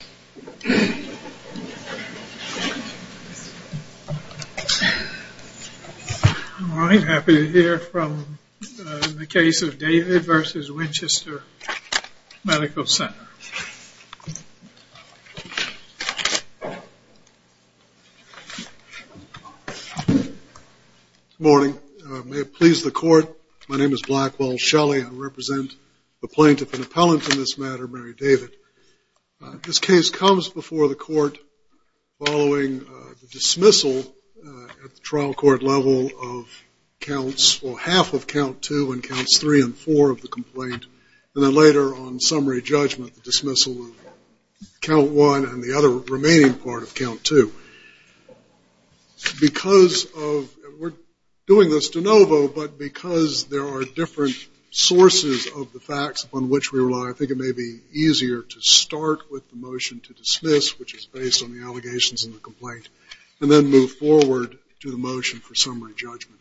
Good morning. May it please the court, my name is Blackwell Shelley. I represent the case comes before the court following dismissal at the trial court level of counts, well half of count two and counts three and four of the complaint, and then later on summary judgment dismissal of count one and the other remaining part of count two. Because of, we're doing this de novo, but because there are different sources of the facts upon which we rely, I is based on the allegations in the complaint, and then move forward to the motion for summary judgment.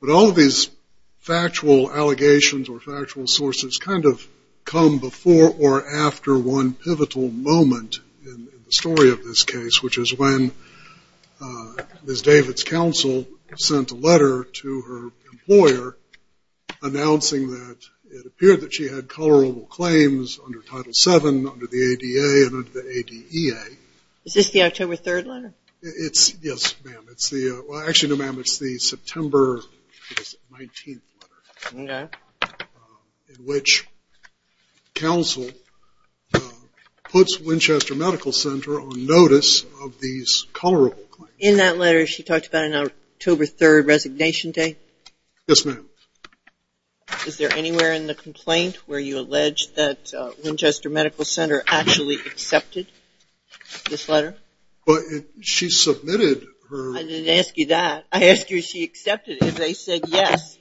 But all of these factual allegations or factual sources kind of come before or after one pivotal moment in the story of this case, which is when Ms. David's counsel sent a letter to her employer announcing that it appeared that she had colorable claims under the ADA and under the ADEA. Is this the October 3rd letter? It's, yes ma'am, it's the, well actually no ma'am, it's the September 19th letter. Okay. In which counsel puts Winchester Medical Center on notice of these colorable claims. In that letter she talked about an October 3rd resignation day? Yes ma'am. Is there anywhere in the complaint where you actually accepted this letter? But she submitted her... I didn't ask you that. I asked you if she accepted it, if they said yes.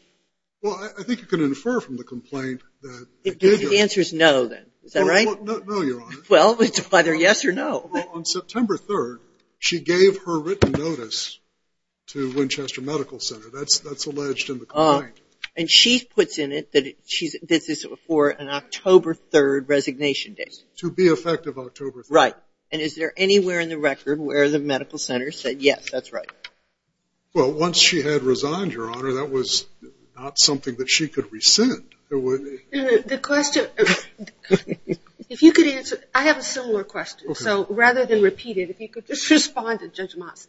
Well I think you can infer from the complaint that... If David answers no then, is that right? Well no your honor. Well it's either yes or no. Well on September 3rd she gave her written notice to Winchester Medical Center, that's alleged in the complaint. And she puts in it that this is for an October 3rd resignation day. To be effective October 3rd. Right. And is there anywhere in the record where the medical center said yes, that's right? Well once she had resigned your honor, that was not something that she could rescind. The question, if you could answer, I have a similar question, so rather than repeat it, if you could just respond to Judge Moss.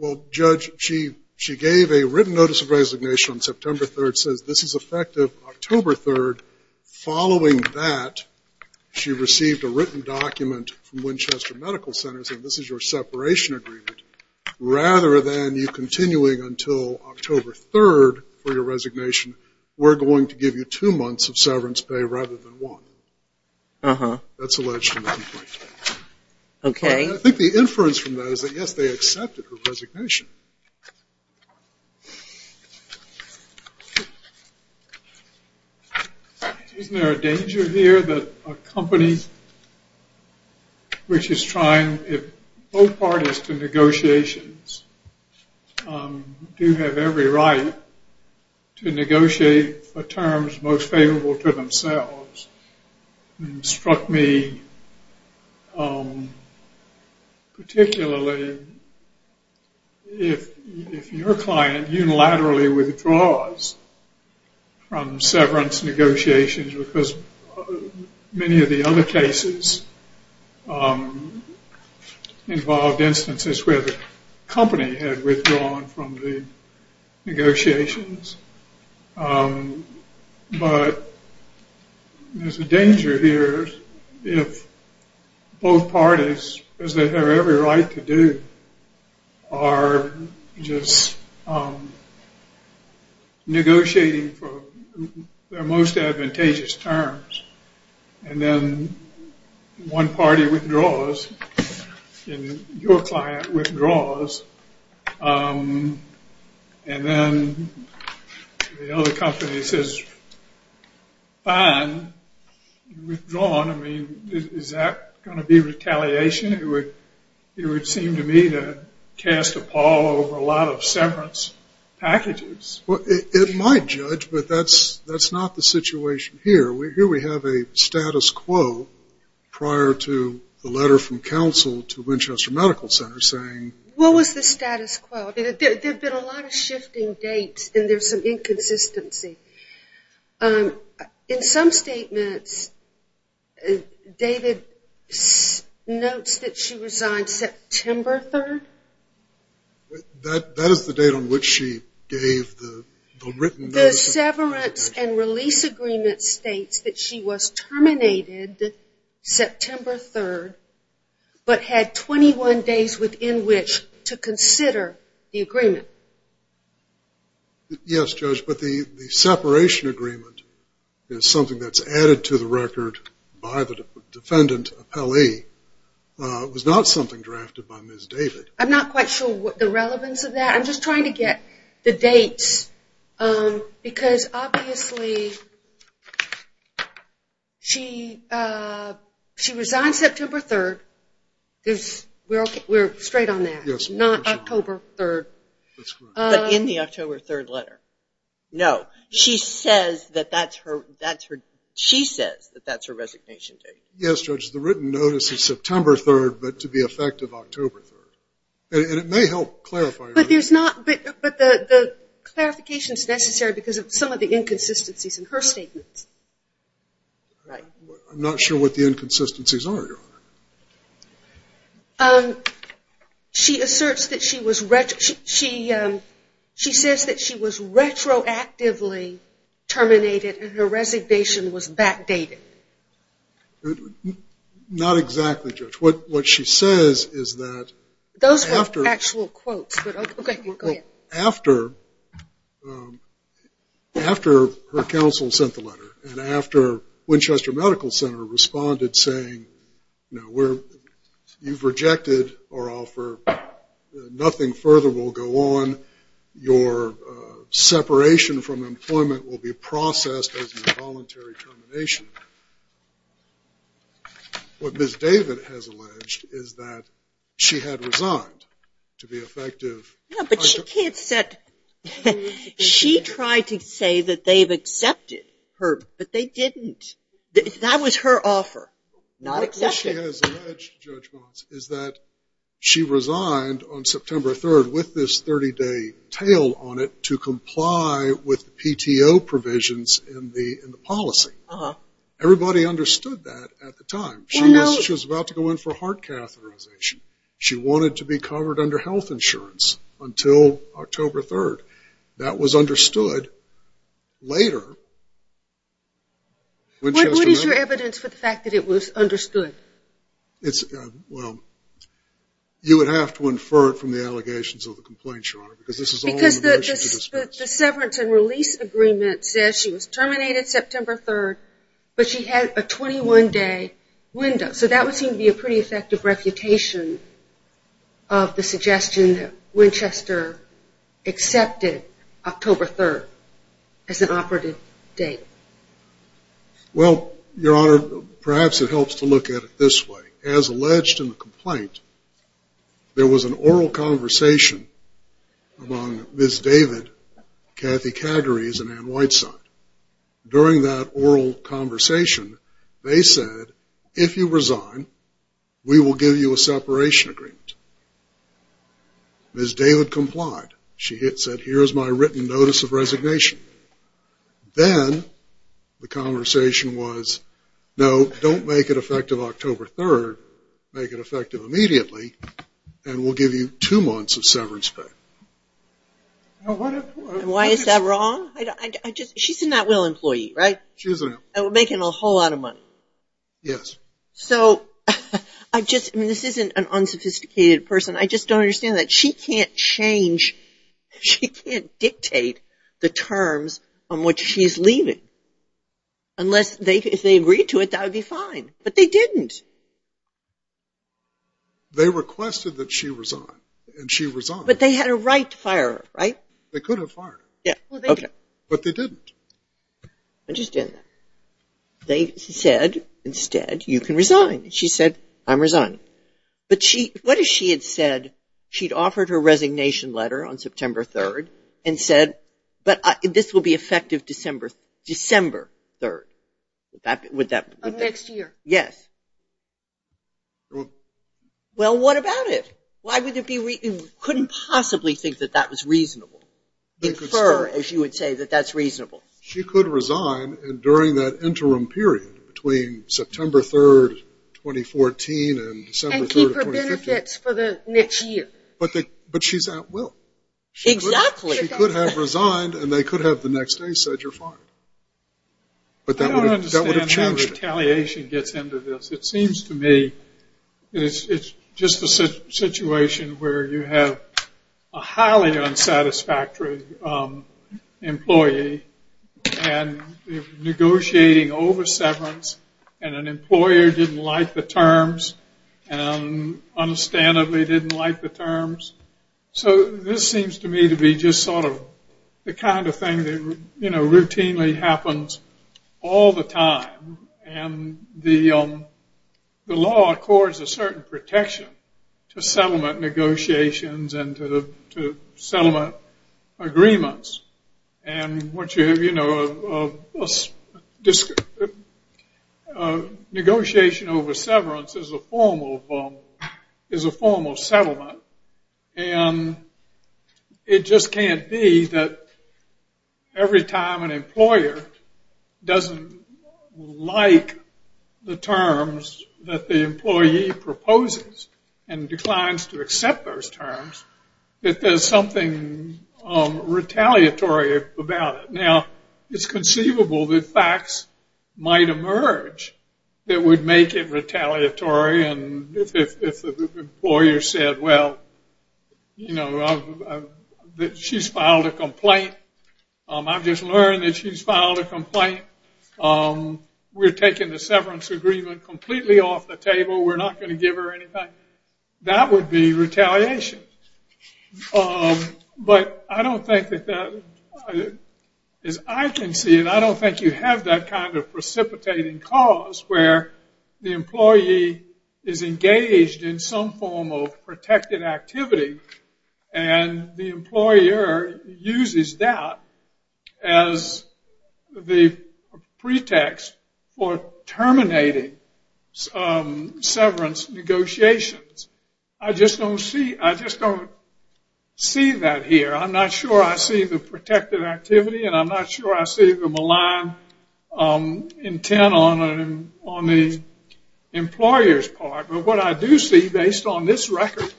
Well Judge, she gave a written notice of resignation on September 3rd, says this is effective October 3rd. Following that, she received a written document from Winchester Medical Center saying this is your separation agreement. Rather than you continuing until October 3rd for your resignation, we're going to give you two months of severance pay rather than one. Uh huh. That's alleged in the complaint. Okay. And I think the inference from that is that yes, they accepted her resignation. Isn't there a danger here that a company which is trying, if both parties to negotiations do have every right to negotiate for terms most if your client unilaterally withdraws from severance negotiations because many of the other cases involved instances where the company had withdrawn from the negotiations, but there's a danger here if both parties, because they have every right to do, are just negotiating for their most advantageous terms and then one party withdraws and your client withdraws and then the other company says fine, you've withdrawn. I mean, is that going to be retaliation? It would seem to me to cast a pall over a lot of severance packages. Well, it might Judge, but that's not the situation here. Here we have a status quo prior to the letter from There have been a lot of shifting dates and there's some inconsistency. In some statements, David notes that she resigned September 3rd. That is the date on which she gave the written notice. The severance and release agreement states that she was terminated September 3rd, but had 21 days within which to consider the agreement. Yes, Judge, but the separation agreement is something that's added to the record by the defendant appellee. It was not something drafted by Ms. David. I'm not quite sure what the relevance of that. I'm just trying to get the dates because obviously she resigned September 3rd. We're straight on that. It's not October 3rd. But in the October 3rd letter. No, she says that that's her resignation date. Yes, Judge, the written notice is September 3rd, but to the effect of October 3rd. And it may help clarify. But the clarification is necessary because of some of the inconsistencies in her statements. I'm not sure what the inconsistencies are, Your Honor. She asserts that she was retroactively terminated and her resignation was backdated. Not exactly, Judge. What she says is that. Those were actual quotes. After her counsel sent the letter and after Winchester Medical Center responded saying, you've rejected our offer. Nothing further will go on. Your separation from employment will be What Ms. David has alleged is that she had resigned to be effective. Yeah, but she tried to say that they've accepted her, but they didn't. That was her offer. Not accepted. What she has alleged, Judge Mons, is that she resigned on September 3rd with this 30 day to comply with PTO provisions in the policy. Everybody understood that at the time. She was about to go in for heart catheterization. She wanted to be covered under health insurance until October 3rd. That was understood later. What is your evidence for the fact that it was understood? You would have to infer it from the allegations of the complaint, Your Honor. Because the severance and release agreement says she was terminated September 3rd, but she had a 21 day window. So that would seem to be a pretty effective reputation of the suggestion that Winchester accepted October 3rd as an operative date. Well, Your Honor, perhaps it helps to look at it this way. As alleged in the complaint, there was an oral conversation among Ms. David, Kathy Cagarees, and Ann Whiteside. During that oral conversation, they said, if you resign, we will give you a separation agreement. Ms. David complied. She said, here is my written notice of resignation. Then the conversation was, no, don't make it effective October 3rd. Make it effective immediately, and we'll give you two months of severance pay. Why is that wrong? She's a NatWell employee, right? She is. And we're making a whole lot of money. Yes. So, I just, I mean, this isn't an unsophisticated person. I just don't understand that. She can't change, she can't dictate the terms on which she's leaving. Unless, if they agreed to it, that would be fine. But they didn't. They requested that she resign, and she resigned. But they had a right to fire her, right? They could have fired her. Okay. But they didn't. I understand that. They said, instead, you can resign. She said, I'm resigning. But what if she had said, she'd offered her resignation letter on September 3rd, and said, but this will be effective December 3rd. Of next year. Yes. Well, what about it? Why would it be, couldn't possibly think that that was reasonable. Confer, as you would say, that that's reasonable. She could resign during that interim period between September 3rd, 2014, and December 3rd, 2015. And keep her benefits for the next year. But she's at will. Exactly. She could have resigned, and they could have the next day said, you're fired. But that would have changed it. I don't understand how retaliation gets into this. It seems to me it's just a situation where you have a highly unsatisfactory employee, and negotiating over severance, and an employer didn't like the terms, and understandably didn't like the terms. So this seems to me to be just sort of the kind of thing that, you know, routinely happens all the time. And the law accords a certain protection to settlement negotiations and to settlement agreements. And once you have, you know, negotiation over severance is a form of settlement. And it just can't be that every time an employer doesn't like the terms that the employee proposes and declines to accept those terms, that there's something retaliatory about it. Now, it's conceivable that facts might emerge that would make it retaliatory. And if the employer said, well, you know, she's filed a complaint. I've just learned that she's filed a complaint. We're taking the severance agreement completely off the table. We're not going to give her anything. That would be retaliation. But I don't think that that, as I can see it, I don't think you have that kind of precipitating cause where the employee is engaged in some form of protected activity and the employer uses that as the pretext for terminating severance negotiations. I just don't see that here. I'm not sure I see the protected activity, and I'm not sure I see the malign intent on the employer's part. But what I do see, based on this record,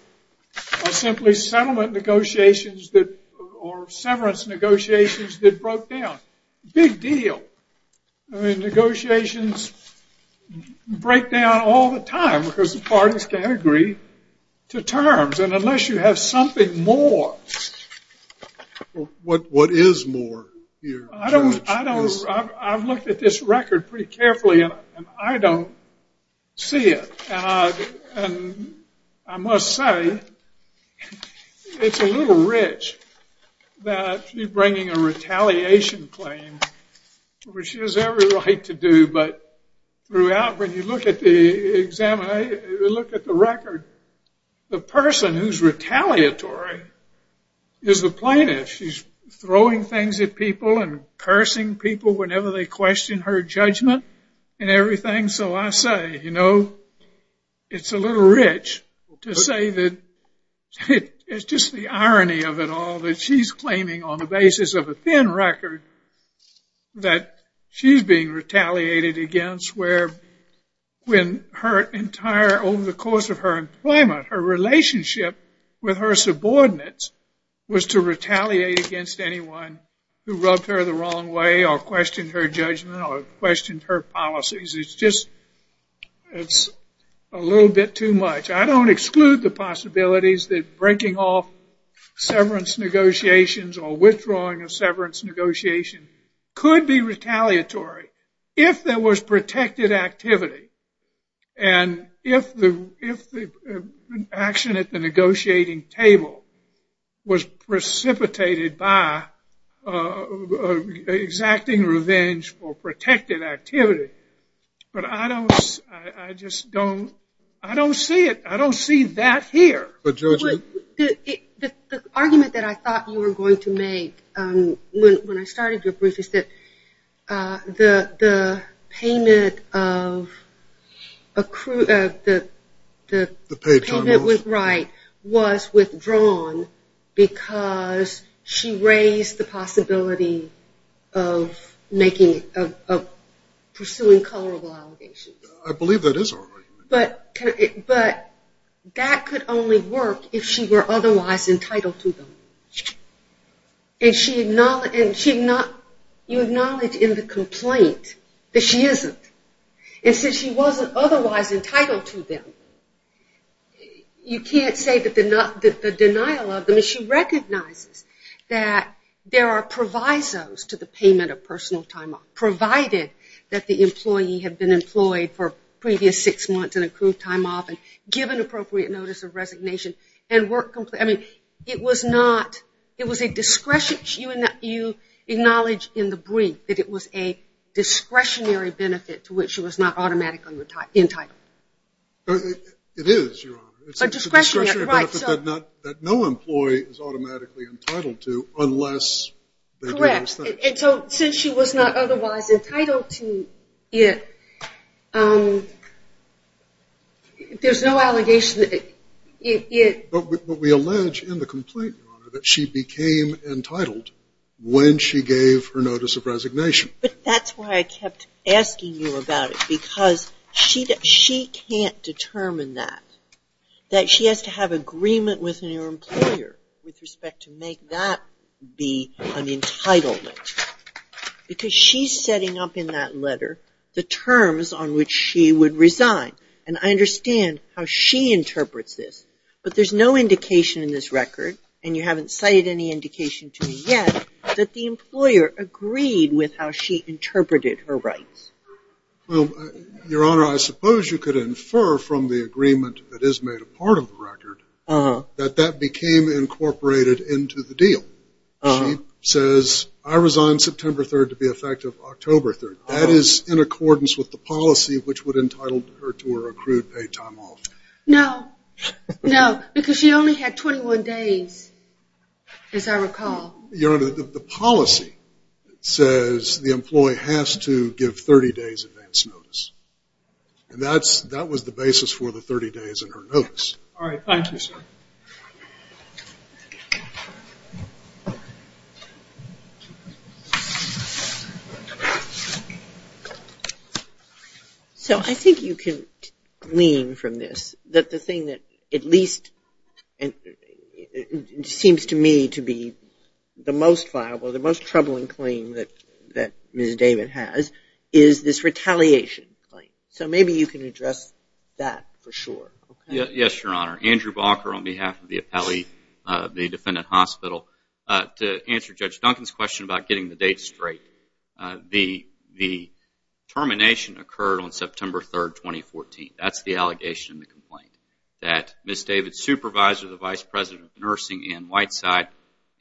are simply settlement negotiations or severance negotiations that broke down. Big deal. I mean, negotiations break down all the time because the parties can't agree to terms. And unless you have something more. What is more here, George? I've looked at this record pretty carefully, and I don't see it. I must say it's a little rich that you're bringing a retaliation claim, which is every right to do. But throughout, when you look at the record, the person who's retaliatory is the plaintiff. She's throwing things at people and cursing people whenever they question her judgment and everything. So I say, you know, it's a little rich to say that it's just the irony of it all that she's claiming on the basis of a thin record that she's being retaliated against, where over the course of her employment, her relationship with her subordinates was to retaliate against anyone who rubbed her the wrong way or questioned her judgment or questioned her policies. It's just a little bit too much. I don't exclude the possibilities that breaking off severance negotiations or withdrawing a severance negotiation could be retaliatory. If there was protected activity, and if the action at the negotiating table was precipitated by exacting revenge for protected activity, but I don't see it. I don't see that here. The argument that I thought you were going to make when I started your brief is that the payment of right was withdrawn because she raised the possibility of pursuing colorable allegations. I believe that is our argument. But that could only work if she were otherwise entitled to them. You acknowledge in the complaint that she isn't, and since she wasn't otherwise entitled to them, you can't say that the denial of them, and she recognizes that there are provisos to the payment of personal time off, provided that the employee had been employed for previous six months and accrued time off and given appropriate notice of resignation. I mean, it was a discretion. You acknowledge in the brief that it was a discretionary benefit to which she was not automatically entitled. It is, Your Honor. A discretionary benefit that no employee is automatically entitled to unless they do those things. Correct. And so since she was not otherwise entitled to it, there's no allegation that it. But we allege in the complaint, Your Honor, that she became entitled when she gave her notice of resignation. But that's why I kept asking you about it, because she can't determine that, that she has to have agreement with her employer with respect to make that be an entitlement. Because she's setting up in that letter the terms on which she would resign. And I understand how she interprets this. But there's no indication in this record, and you haven't cited any indication to me yet, that the employer agreed with how she interpreted her rights. Well, Your Honor, I suppose you could infer from the agreement that is made a part of the record that that became incorporated into the deal. She says, I resign September 3rd to be effective October 3rd. That is in accordance with the policy which would entitle her to her accrued paid time off. No. No. Because she only had 21 days, as I recall. Your Honor, the policy says the employee has to give 30 days advance notice. And that was the basis for the 30 days in her notice. All right. Thank you, sir. So I think you can glean from this that the thing that at least seems to me to be the most viable, the most troubling claim that Ms. David has, is this retaliation claim. So maybe you can address that for sure. Yes, Your Honor. Andrew Barker on behalf of the appellee of the defendant hospital. To answer Judge Duncan's question about getting the date straight, the termination occurred on September 3rd, 2014. That's the allegation in the complaint. That Ms. David's supervisor, the Vice President of Nursing, Ann Whiteside,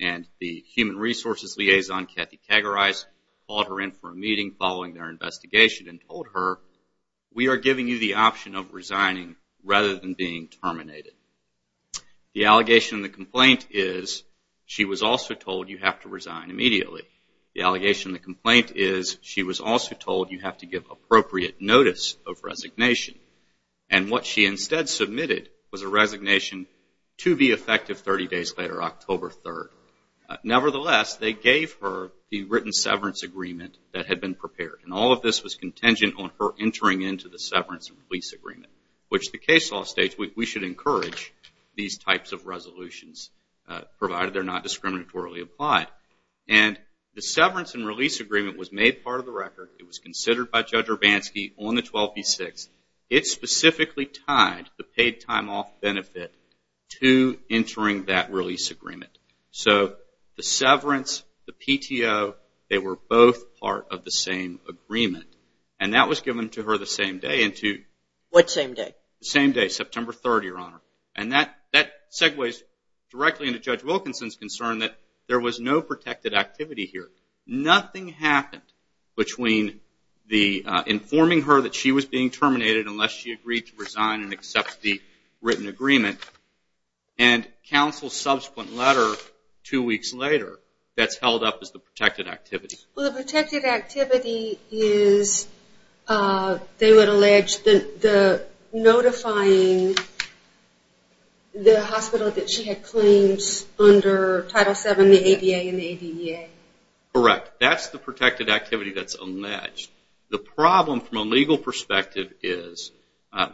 and the Human Resources Liaison, Kathy Cagorize, called her in for a meeting following their investigation and told her, we are giving you the option of resigning rather than being terminated. The allegation in the complaint is, she was also told you have to resign immediately. The allegation in the complaint is, she was also told you have to give appropriate notice of resignation. And what she instead submitted was a resignation to be effective 30 days later, October 3rd. Nevertheless, they gave her the written severance agreement that had been prepared. And all of this was contingent on her entering into the severance and release agreement, which the case law states we should encourage these types of resolutions, provided they're not discriminatorily applied. And the severance and release agreement was made part of the record. It was considered by Judge Urbanski on the 12B6. It specifically tied the paid time off benefit to entering that release agreement. So the severance, the PTO, they were both part of the same agreement. And that was given to her the same day. What same day? The same day, September 3rd, Your Honor. And that segues directly into Judge Wilkinson's concern that there was no protected activity here. Nothing happened between informing her that she was being terminated unless she agreed to resign and accept the written agreement, and counsel's subsequent letter two weeks later that's held up as the protected activity. Well, the protected activity is, they would allege, the notifying the hospital that she had claims under Title VII, the ADA, and the ADEA. Correct. That's the protected activity that's alleged. The problem from a legal perspective is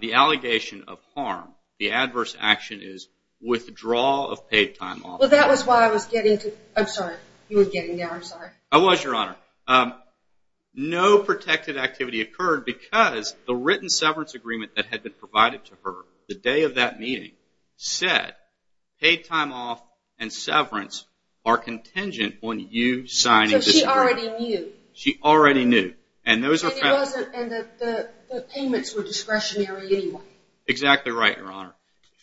the allegation of harm, the adverse action is withdrawal of paid time off. Well, that was why I was getting to, I'm sorry, you were getting there, I'm sorry. I was, Your Honor. No protected activity occurred because the written severance agreement that had been provided to her the day of that meeting said, paid time off and severance are contingent on you signing this agreement. So she already knew. She already knew. And the payments were discretionary anyway. Exactly right, Your Honor.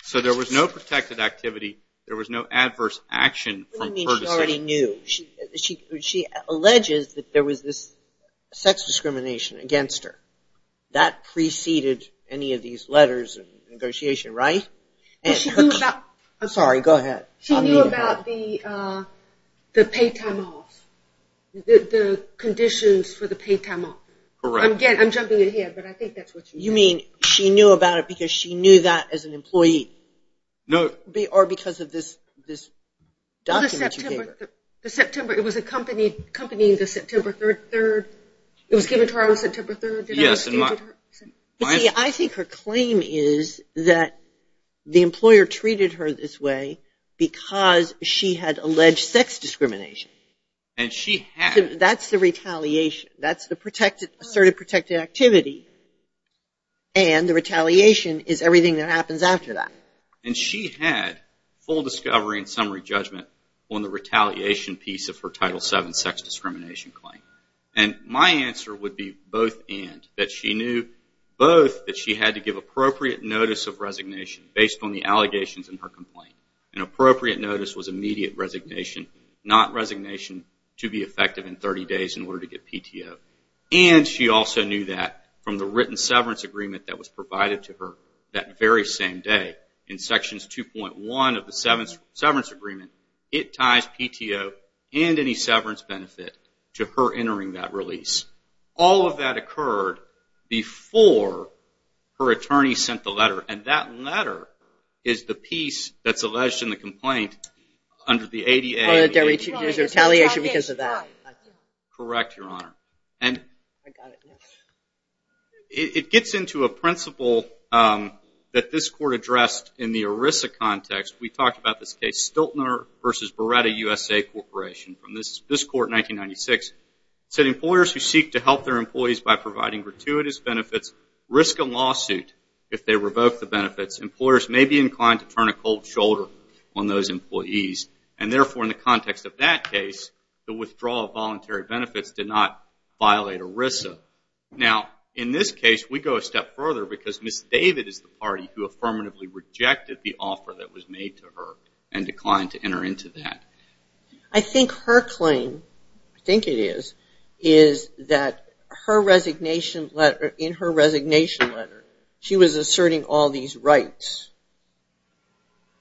So there was no protected activity, there was no adverse action from her decision. She already knew. She alleges that there was this sex discrimination against her. That preceded any of these letters of negotiation, right? I'm sorry, go ahead. She knew about the paid time off, the conditions for the paid time off. Again, I'm jumping in here, but I think that's what you mean. You mean she knew about it because she knew that as an employee? No. Or because of this document you gave her? The September, it was accompanying the September 3rd. It was given to her on September 3rd. Yes. You see, I think her claim is that the employer treated her this way because she had alleged sex discrimination. And she had. That's the retaliation. That's the asserted protected activity. And the retaliation is everything that happens after that. And she had full discovery and summary judgment on the retaliation piece of her Title VII sex discrimination claim. And my answer would be both and. That she knew both that she had to give appropriate notice of resignation based on the allegations in her complaint. And appropriate notice was immediate resignation, not resignation to be effective in 30 days in order to get PTO. And she also knew that from the written severance agreement that was provided to her that very same day, in sections 2.1 of the severance agreement, it ties PTO and any severance benefit to her entering that release. All of that occurred before her attorney sent the letter. And that letter is the piece that's alleged in the complaint under the ADA. There's retaliation because of that. Correct, Your Honor. I got it. It gets into a principle that this court addressed in the ERISA context. We talked about this case, Stiltner v. Beretta USA Corporation, from this court in 1996. It said employers who seek to help their employees by providing gratuitous benefits risk a lawsuit if they revoke the benefits. Employers may be inclined to turn a cold shoulder on those employees. And therefore, in the context of that case, the withdrawal of voluntary benefits did not violate ERISA. Now, in this case, we go a step further because Ms. David is the party who affirmatively rejected the offer that was made to her and declined to enter into that. I think her claim, I think it is, is that in her resignation letter she was asserting all these rights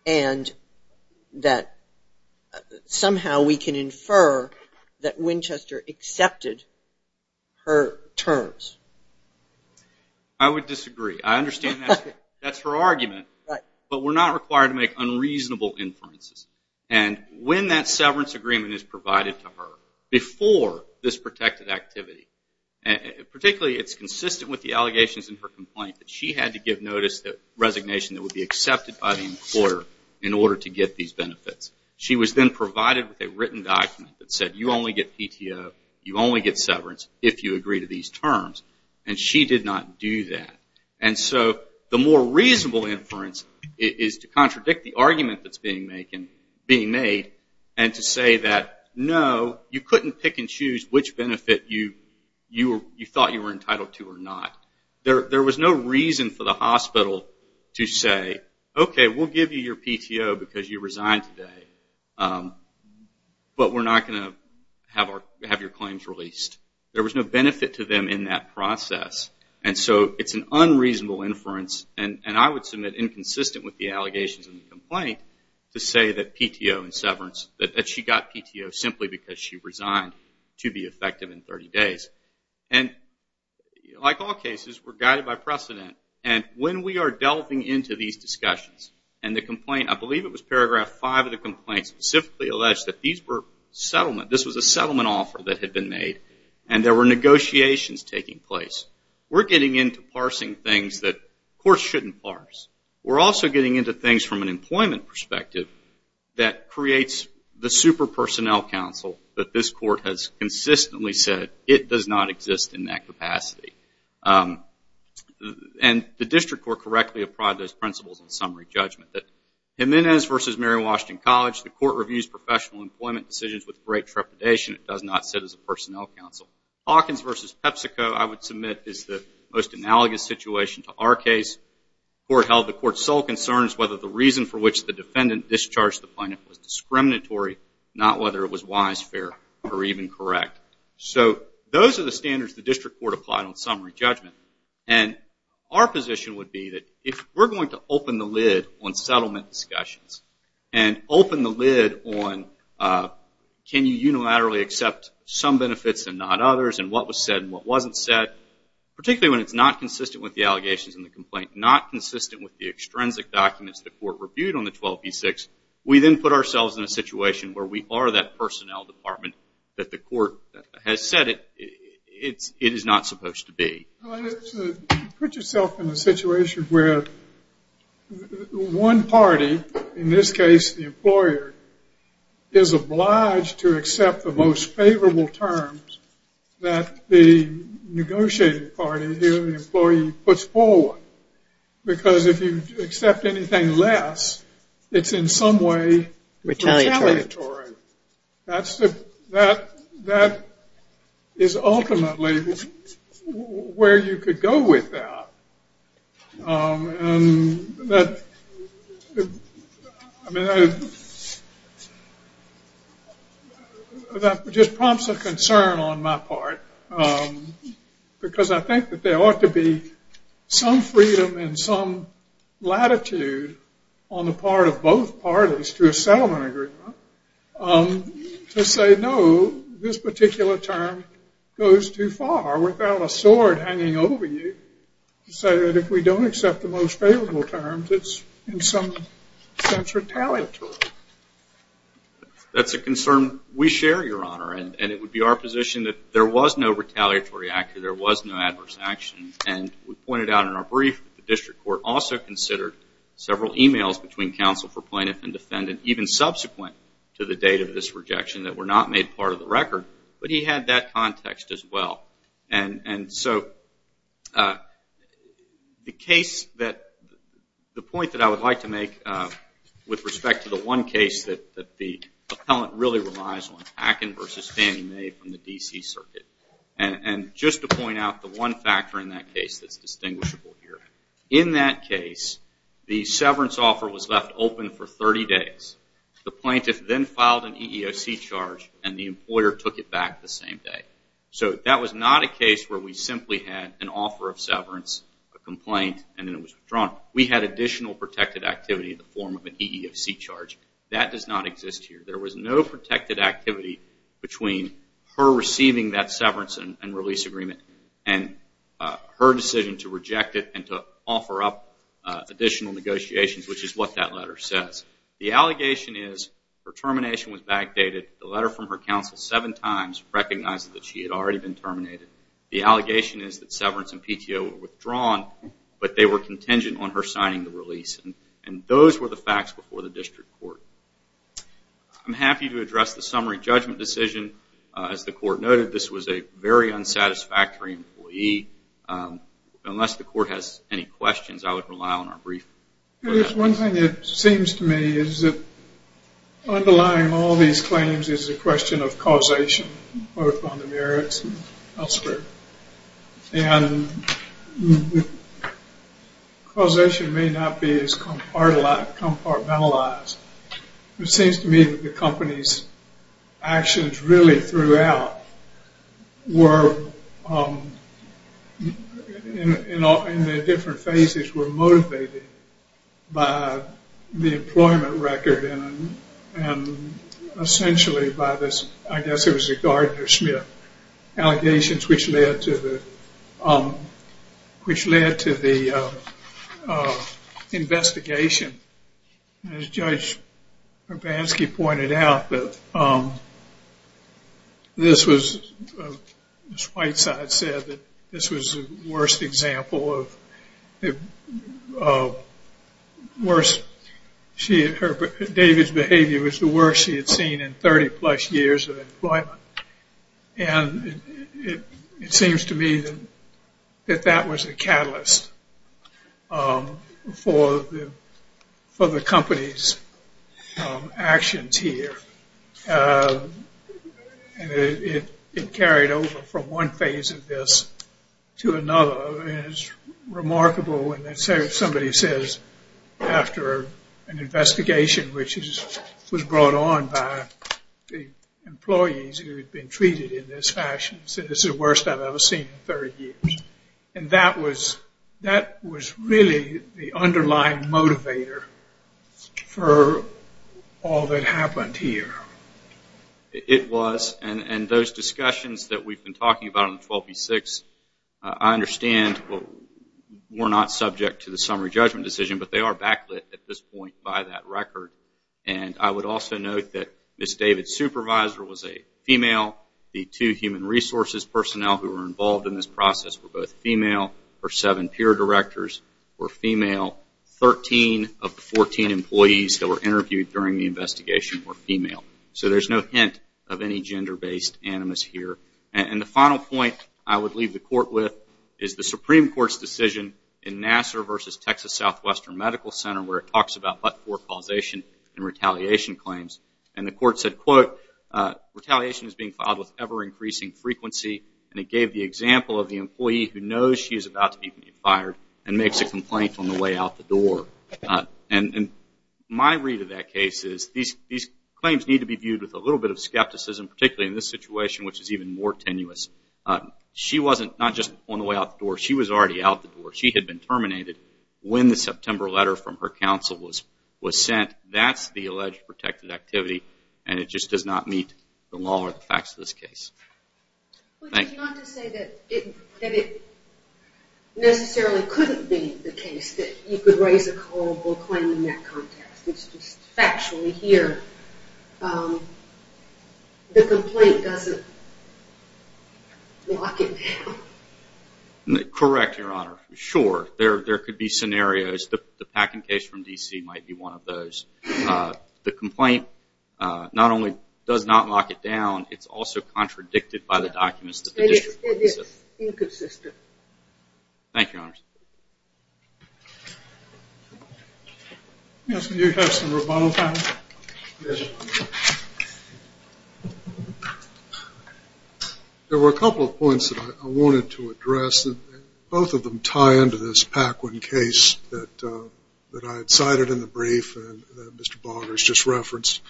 and that somehow we can infer that Winchester accepted her terms. I would disagree. I understand that's her argument, but we're not required to make unreasonable inferences. And when that severance agreement is provided to her, before this protected activity, particularly it's consistent with the allegations in her complaint that she had to give notice of resignation that would be accepted by the employer in order to get these benefits. She was then provided with a written document that said, you only get PTO, you only get severance if you agree to these terms. And she did not do that. And so the more reasonable inference is to contradict the argument that's being made and to say that, no, you couldn't pick and choose which benefit you thought you were entitled to or not. There was no reason for the hospital to say, okay, we'll give you your PTO because you resigned today, but we're not going to have your claims released. There was no benefit to them in that process. And so it's an unreasonable inference, and I would submit inconsistent with the allegations in the complaint, to say that PTO and severance, that she got PTO simply because she resigned to be effective in 30 days. And like all cases, we're guided by precedent. And when we are delving into these discussions, and the complaint, I believe it was paragraph 5 of the complaint, specifically alleged that these were settlement, this was a settlement offer that had been made, and there were negotiations taking place. We're getting into parsing things that courts shouldn't parse. We're also getting into things from an employment perspective that creates the super personnel council that this court has consistently said it does not exist in that capacity. And the district court correctly applied those principles in summary judgment, that Jimenez v. Mary Washington College, the court reviews professional employment decisions with great trepidation. It does not sit as a personnel council. Hawkins v. PepsiCo, I would submit, is the most analogous situation to our case. The court held the court's sole concern is whether the reason for which the defendant discharged the plaintiff was discriminatory, not whether it was wise, fair, or even correct. So those are the standards the district court applied on summary judgment. And our position would be that if we're going to open the lid on settlement discussions, and open the lid on can you unilaterally accept some benefits and not others, and what was said and what wasn't said, particularly when it's not consistent with the allegations in the complaint, not consistent with the extrinsic documents the court reviewed on the 12b6, we then put ourselves in a situation where we are that personnel department that the court has said it is not supposed to be. Put yourself in a situation where one party, in this case the employer, is obliged to accept the most favorable terms that the negotiating party, the employee, puts forward. Because if you accept anything less, it's in some way retaliatory. That is ultimately where you could go with that. That just prompts a concern on my part, because I think that there ought to be some freedom and some latitude on the part of both parties to a settlement agreement to say no, this particular term goes too far without a sword hanging over you to say that if we don't accept the most favorable terms, it's in some sense retaliatory. That's a concern we share, Your Honor, and it would be our position that there was no retaliatory action, there was no adverse action. We pointed out in our brief that the district court also considered several e-mails between counsel for plaintiff and defendant, even subsequent to the date of this rejection, that were not made part of the record. But he had that context as well. The point that I would like to make with respect to the one case that the appellant really relies on, Hacken v. Fannie Mae from the D.C. circuit, and just to point out the one factor in that case that's distinguishable here. In that case, the severance offer was left open for 30 days. The plaintiff then filed an EEOC charge, and the employer took it back the same day. So that was not a case where we simply had an offer of severance, a complaint, and then it was withdrawn. We had additional protected activity in the form of an EEOC charge. That does not exist here. There was no protected activity between her receiving that severance and release agreement and her decision to reject it and to offer up additional negotiations, which is what that letter says. The allegation is her termination was backdated. The letter from her counsel seven times recognized that she had already been terminated. The allegation is that severance and PTO were withdrawn, but they were contingent on her signing the release. And those were the facts before the district court. I'm happy to address the summary judgment decision. As the court noted, this was a very unsatisfactory employee. Unless the court has any questions, I would rely on our brief. One thing that seems to me is that underlying all these claims is the question of causation, both on the merits and elsewhere. And causation may not be as compartmentalized. It seems to me that the company's actions really throughout were, in their different phases, were motivated by the employment record and essentially by this, I guess it was the Gardner-Schmidt allegations, which led to the investigation. As Judge Urbanski pointed out, this was, as Whiteside said, this was the worst example of worse. David's behavior was the worst she had seen in 30-plus years of employment. And it seems to me that that was the catalyst for the company's actions here. It carried over from one phase of this to another. It's remarkable when somebody says, after an investigation, which was brought on by the employees who had been treated in this fashion, said this is the worst I've ever seen in 30 years. And that was really the underlying motivator for all that happened here. It was. And those discussions that we've been talking about on 12b-6, I understand were not subject to the summary judgment decision, but they are backlit at this point by that record. And I would also note that Ms. David's supervisor was a female. The two human resources personnel who were involved in this process were both female. Her seven peer directors were female. Thirteen of the 14 employees that were interviewed during the investigation were female. So there's no hint of any gender-based animus here. And the final point I would leave the Court with is the Supreme Court's decision in Nassar v. Texas Southwestern Medical Center, where it talks about but-for causation and retaliation claims. And the Court said, quote, retaliation is being filed with ever-increasing frequency. And it gave the example of the employee who knows she is about to be fired and makes a complaint on the way out the door. And my read of that case is these claims need to be viewed with a little bit of skepticism, particularly in this situation, which is even more tenuous. She wasn't just on the way out the door. She was already out the door. She had been terminated when the September letter from her counsel was sent. That's the alleged protected activity, and it just does not meet the law or the facts of this case. Thank you. Correct, Your Honor. Sure, there could be scenarios. The packing case from D.C. might be one of those. The complaint not only does not lock it down, it's also contradicted by the documents that the district court has sent. It is inconsistent. Thank you, Your Honor. There were a couple of points that I wanted to address. Both of them tie into this Paquin case that I had cited in the brief that Mr. Barger has just referenced.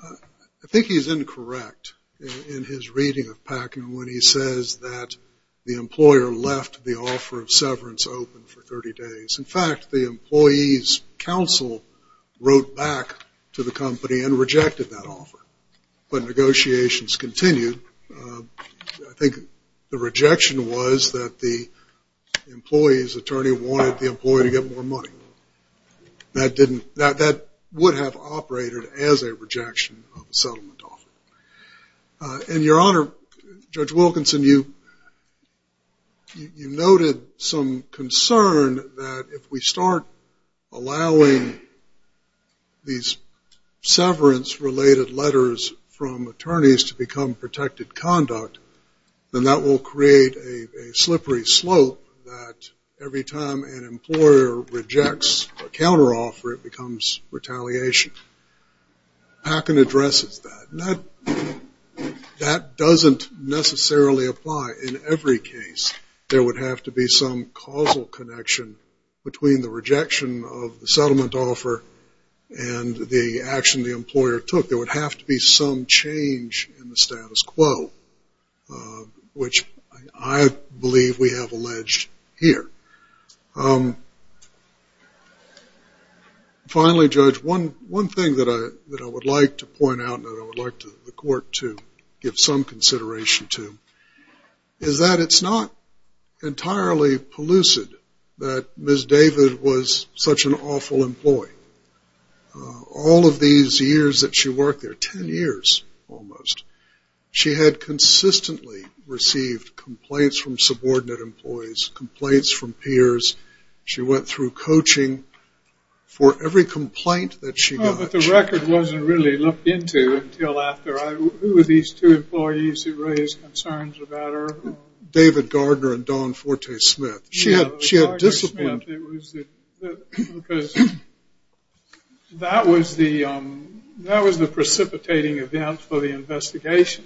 I think he's incorrect in his reading of Paquin when he says that the employer left the offer of severance open for 30 days. In fact, the employee's counsel wrote back to the company and rejected that offer. But negotiations continued. I think the rejection was that the employee's attorney wanted the employee to get more money. That would have operated as a rejection of a settlement offer. And, Your Honor, Judge Wilkinson, you noted some concern that if we start allowing these severance-related letters from attorneys to become protected conduct, then that will create a slippery slope that every time an employer rejects a counteroffer, it becomes retaliation. Paquin addresses that. That doesn't necessarily apply in every case. There would have to be some causal connection between the rejection of the settlement offer and the action the employer took. There would have to be some change in the status quo, which I believe we have alleged here. Finally, Judge, one thing that I would like to point out and I would like the court to give some consideration to is that it's not entirely pellucid that Ms. David was such an awful employee. All of these years that she worked there, 10 years almost, she had consistently received complaints from subordinate employees, complaints from peers. She went through coaching for every complaint that she got. But the record wasn't really looked into until after. Who were these two employees who raised concerns about her? David Gardner and Dawn Forte-Smith. She had discipline. That was the precipitating event for the investigation.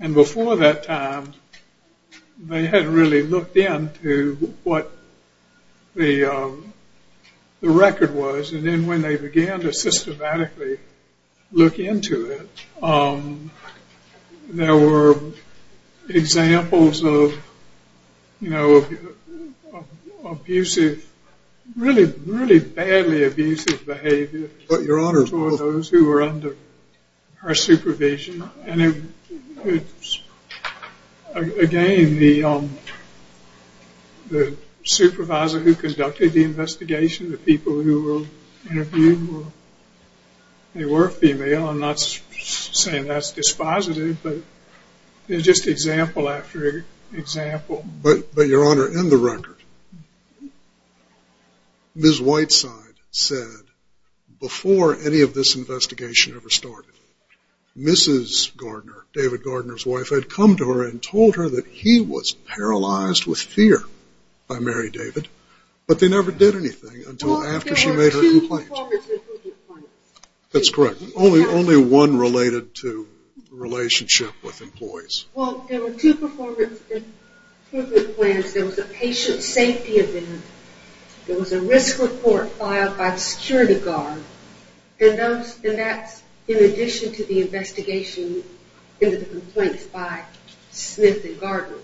And before that time, they hadn't really looked into what the record was. And then when they began to systematically look into it, there were examples of abusive, really badly abusive behavior toward those who were under her supervision. Again, the supervisor who conducted the investigation, to the people who were interviewed, they were female. I'm not saying that's dispositive, but just example after example. But, Your Honor, in the record, Ms. Whiteside said before any of this investigation ever started, Mrs. Gardner, David Gardner's wife, had come to her and told her that he was paralyzed with fear by Mary David, but they never did anything until after she made her complaint. Well, there were two performance improvement plans. That's correct. Only one related to the relationship with employees. Well, there were two performance improvement plans. There was a patient safety event. There was a risk report filed by the security guard. And that's in addition to the investigation into the complaints by Smith and Gardner.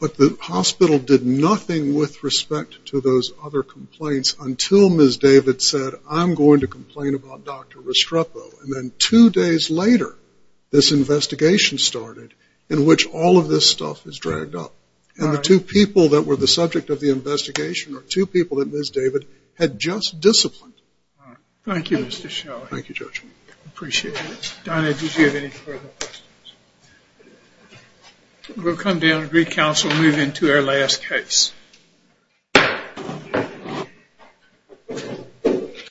But the hospital did nothing with respect to those other complaints until Ms. David said, I'm going to complain about Dr. Restrepo. And then two days later, this investigation started in which all of this stuff is dragged up. And the two people that were the subject of the investigation are two people that Ms. David had just disciplined. All right. Thank you, Mr. Shelly. Thank you, Judge. Appreciate it. Donna, did you have any further questions? We'll come down to recouncil and move into our last case.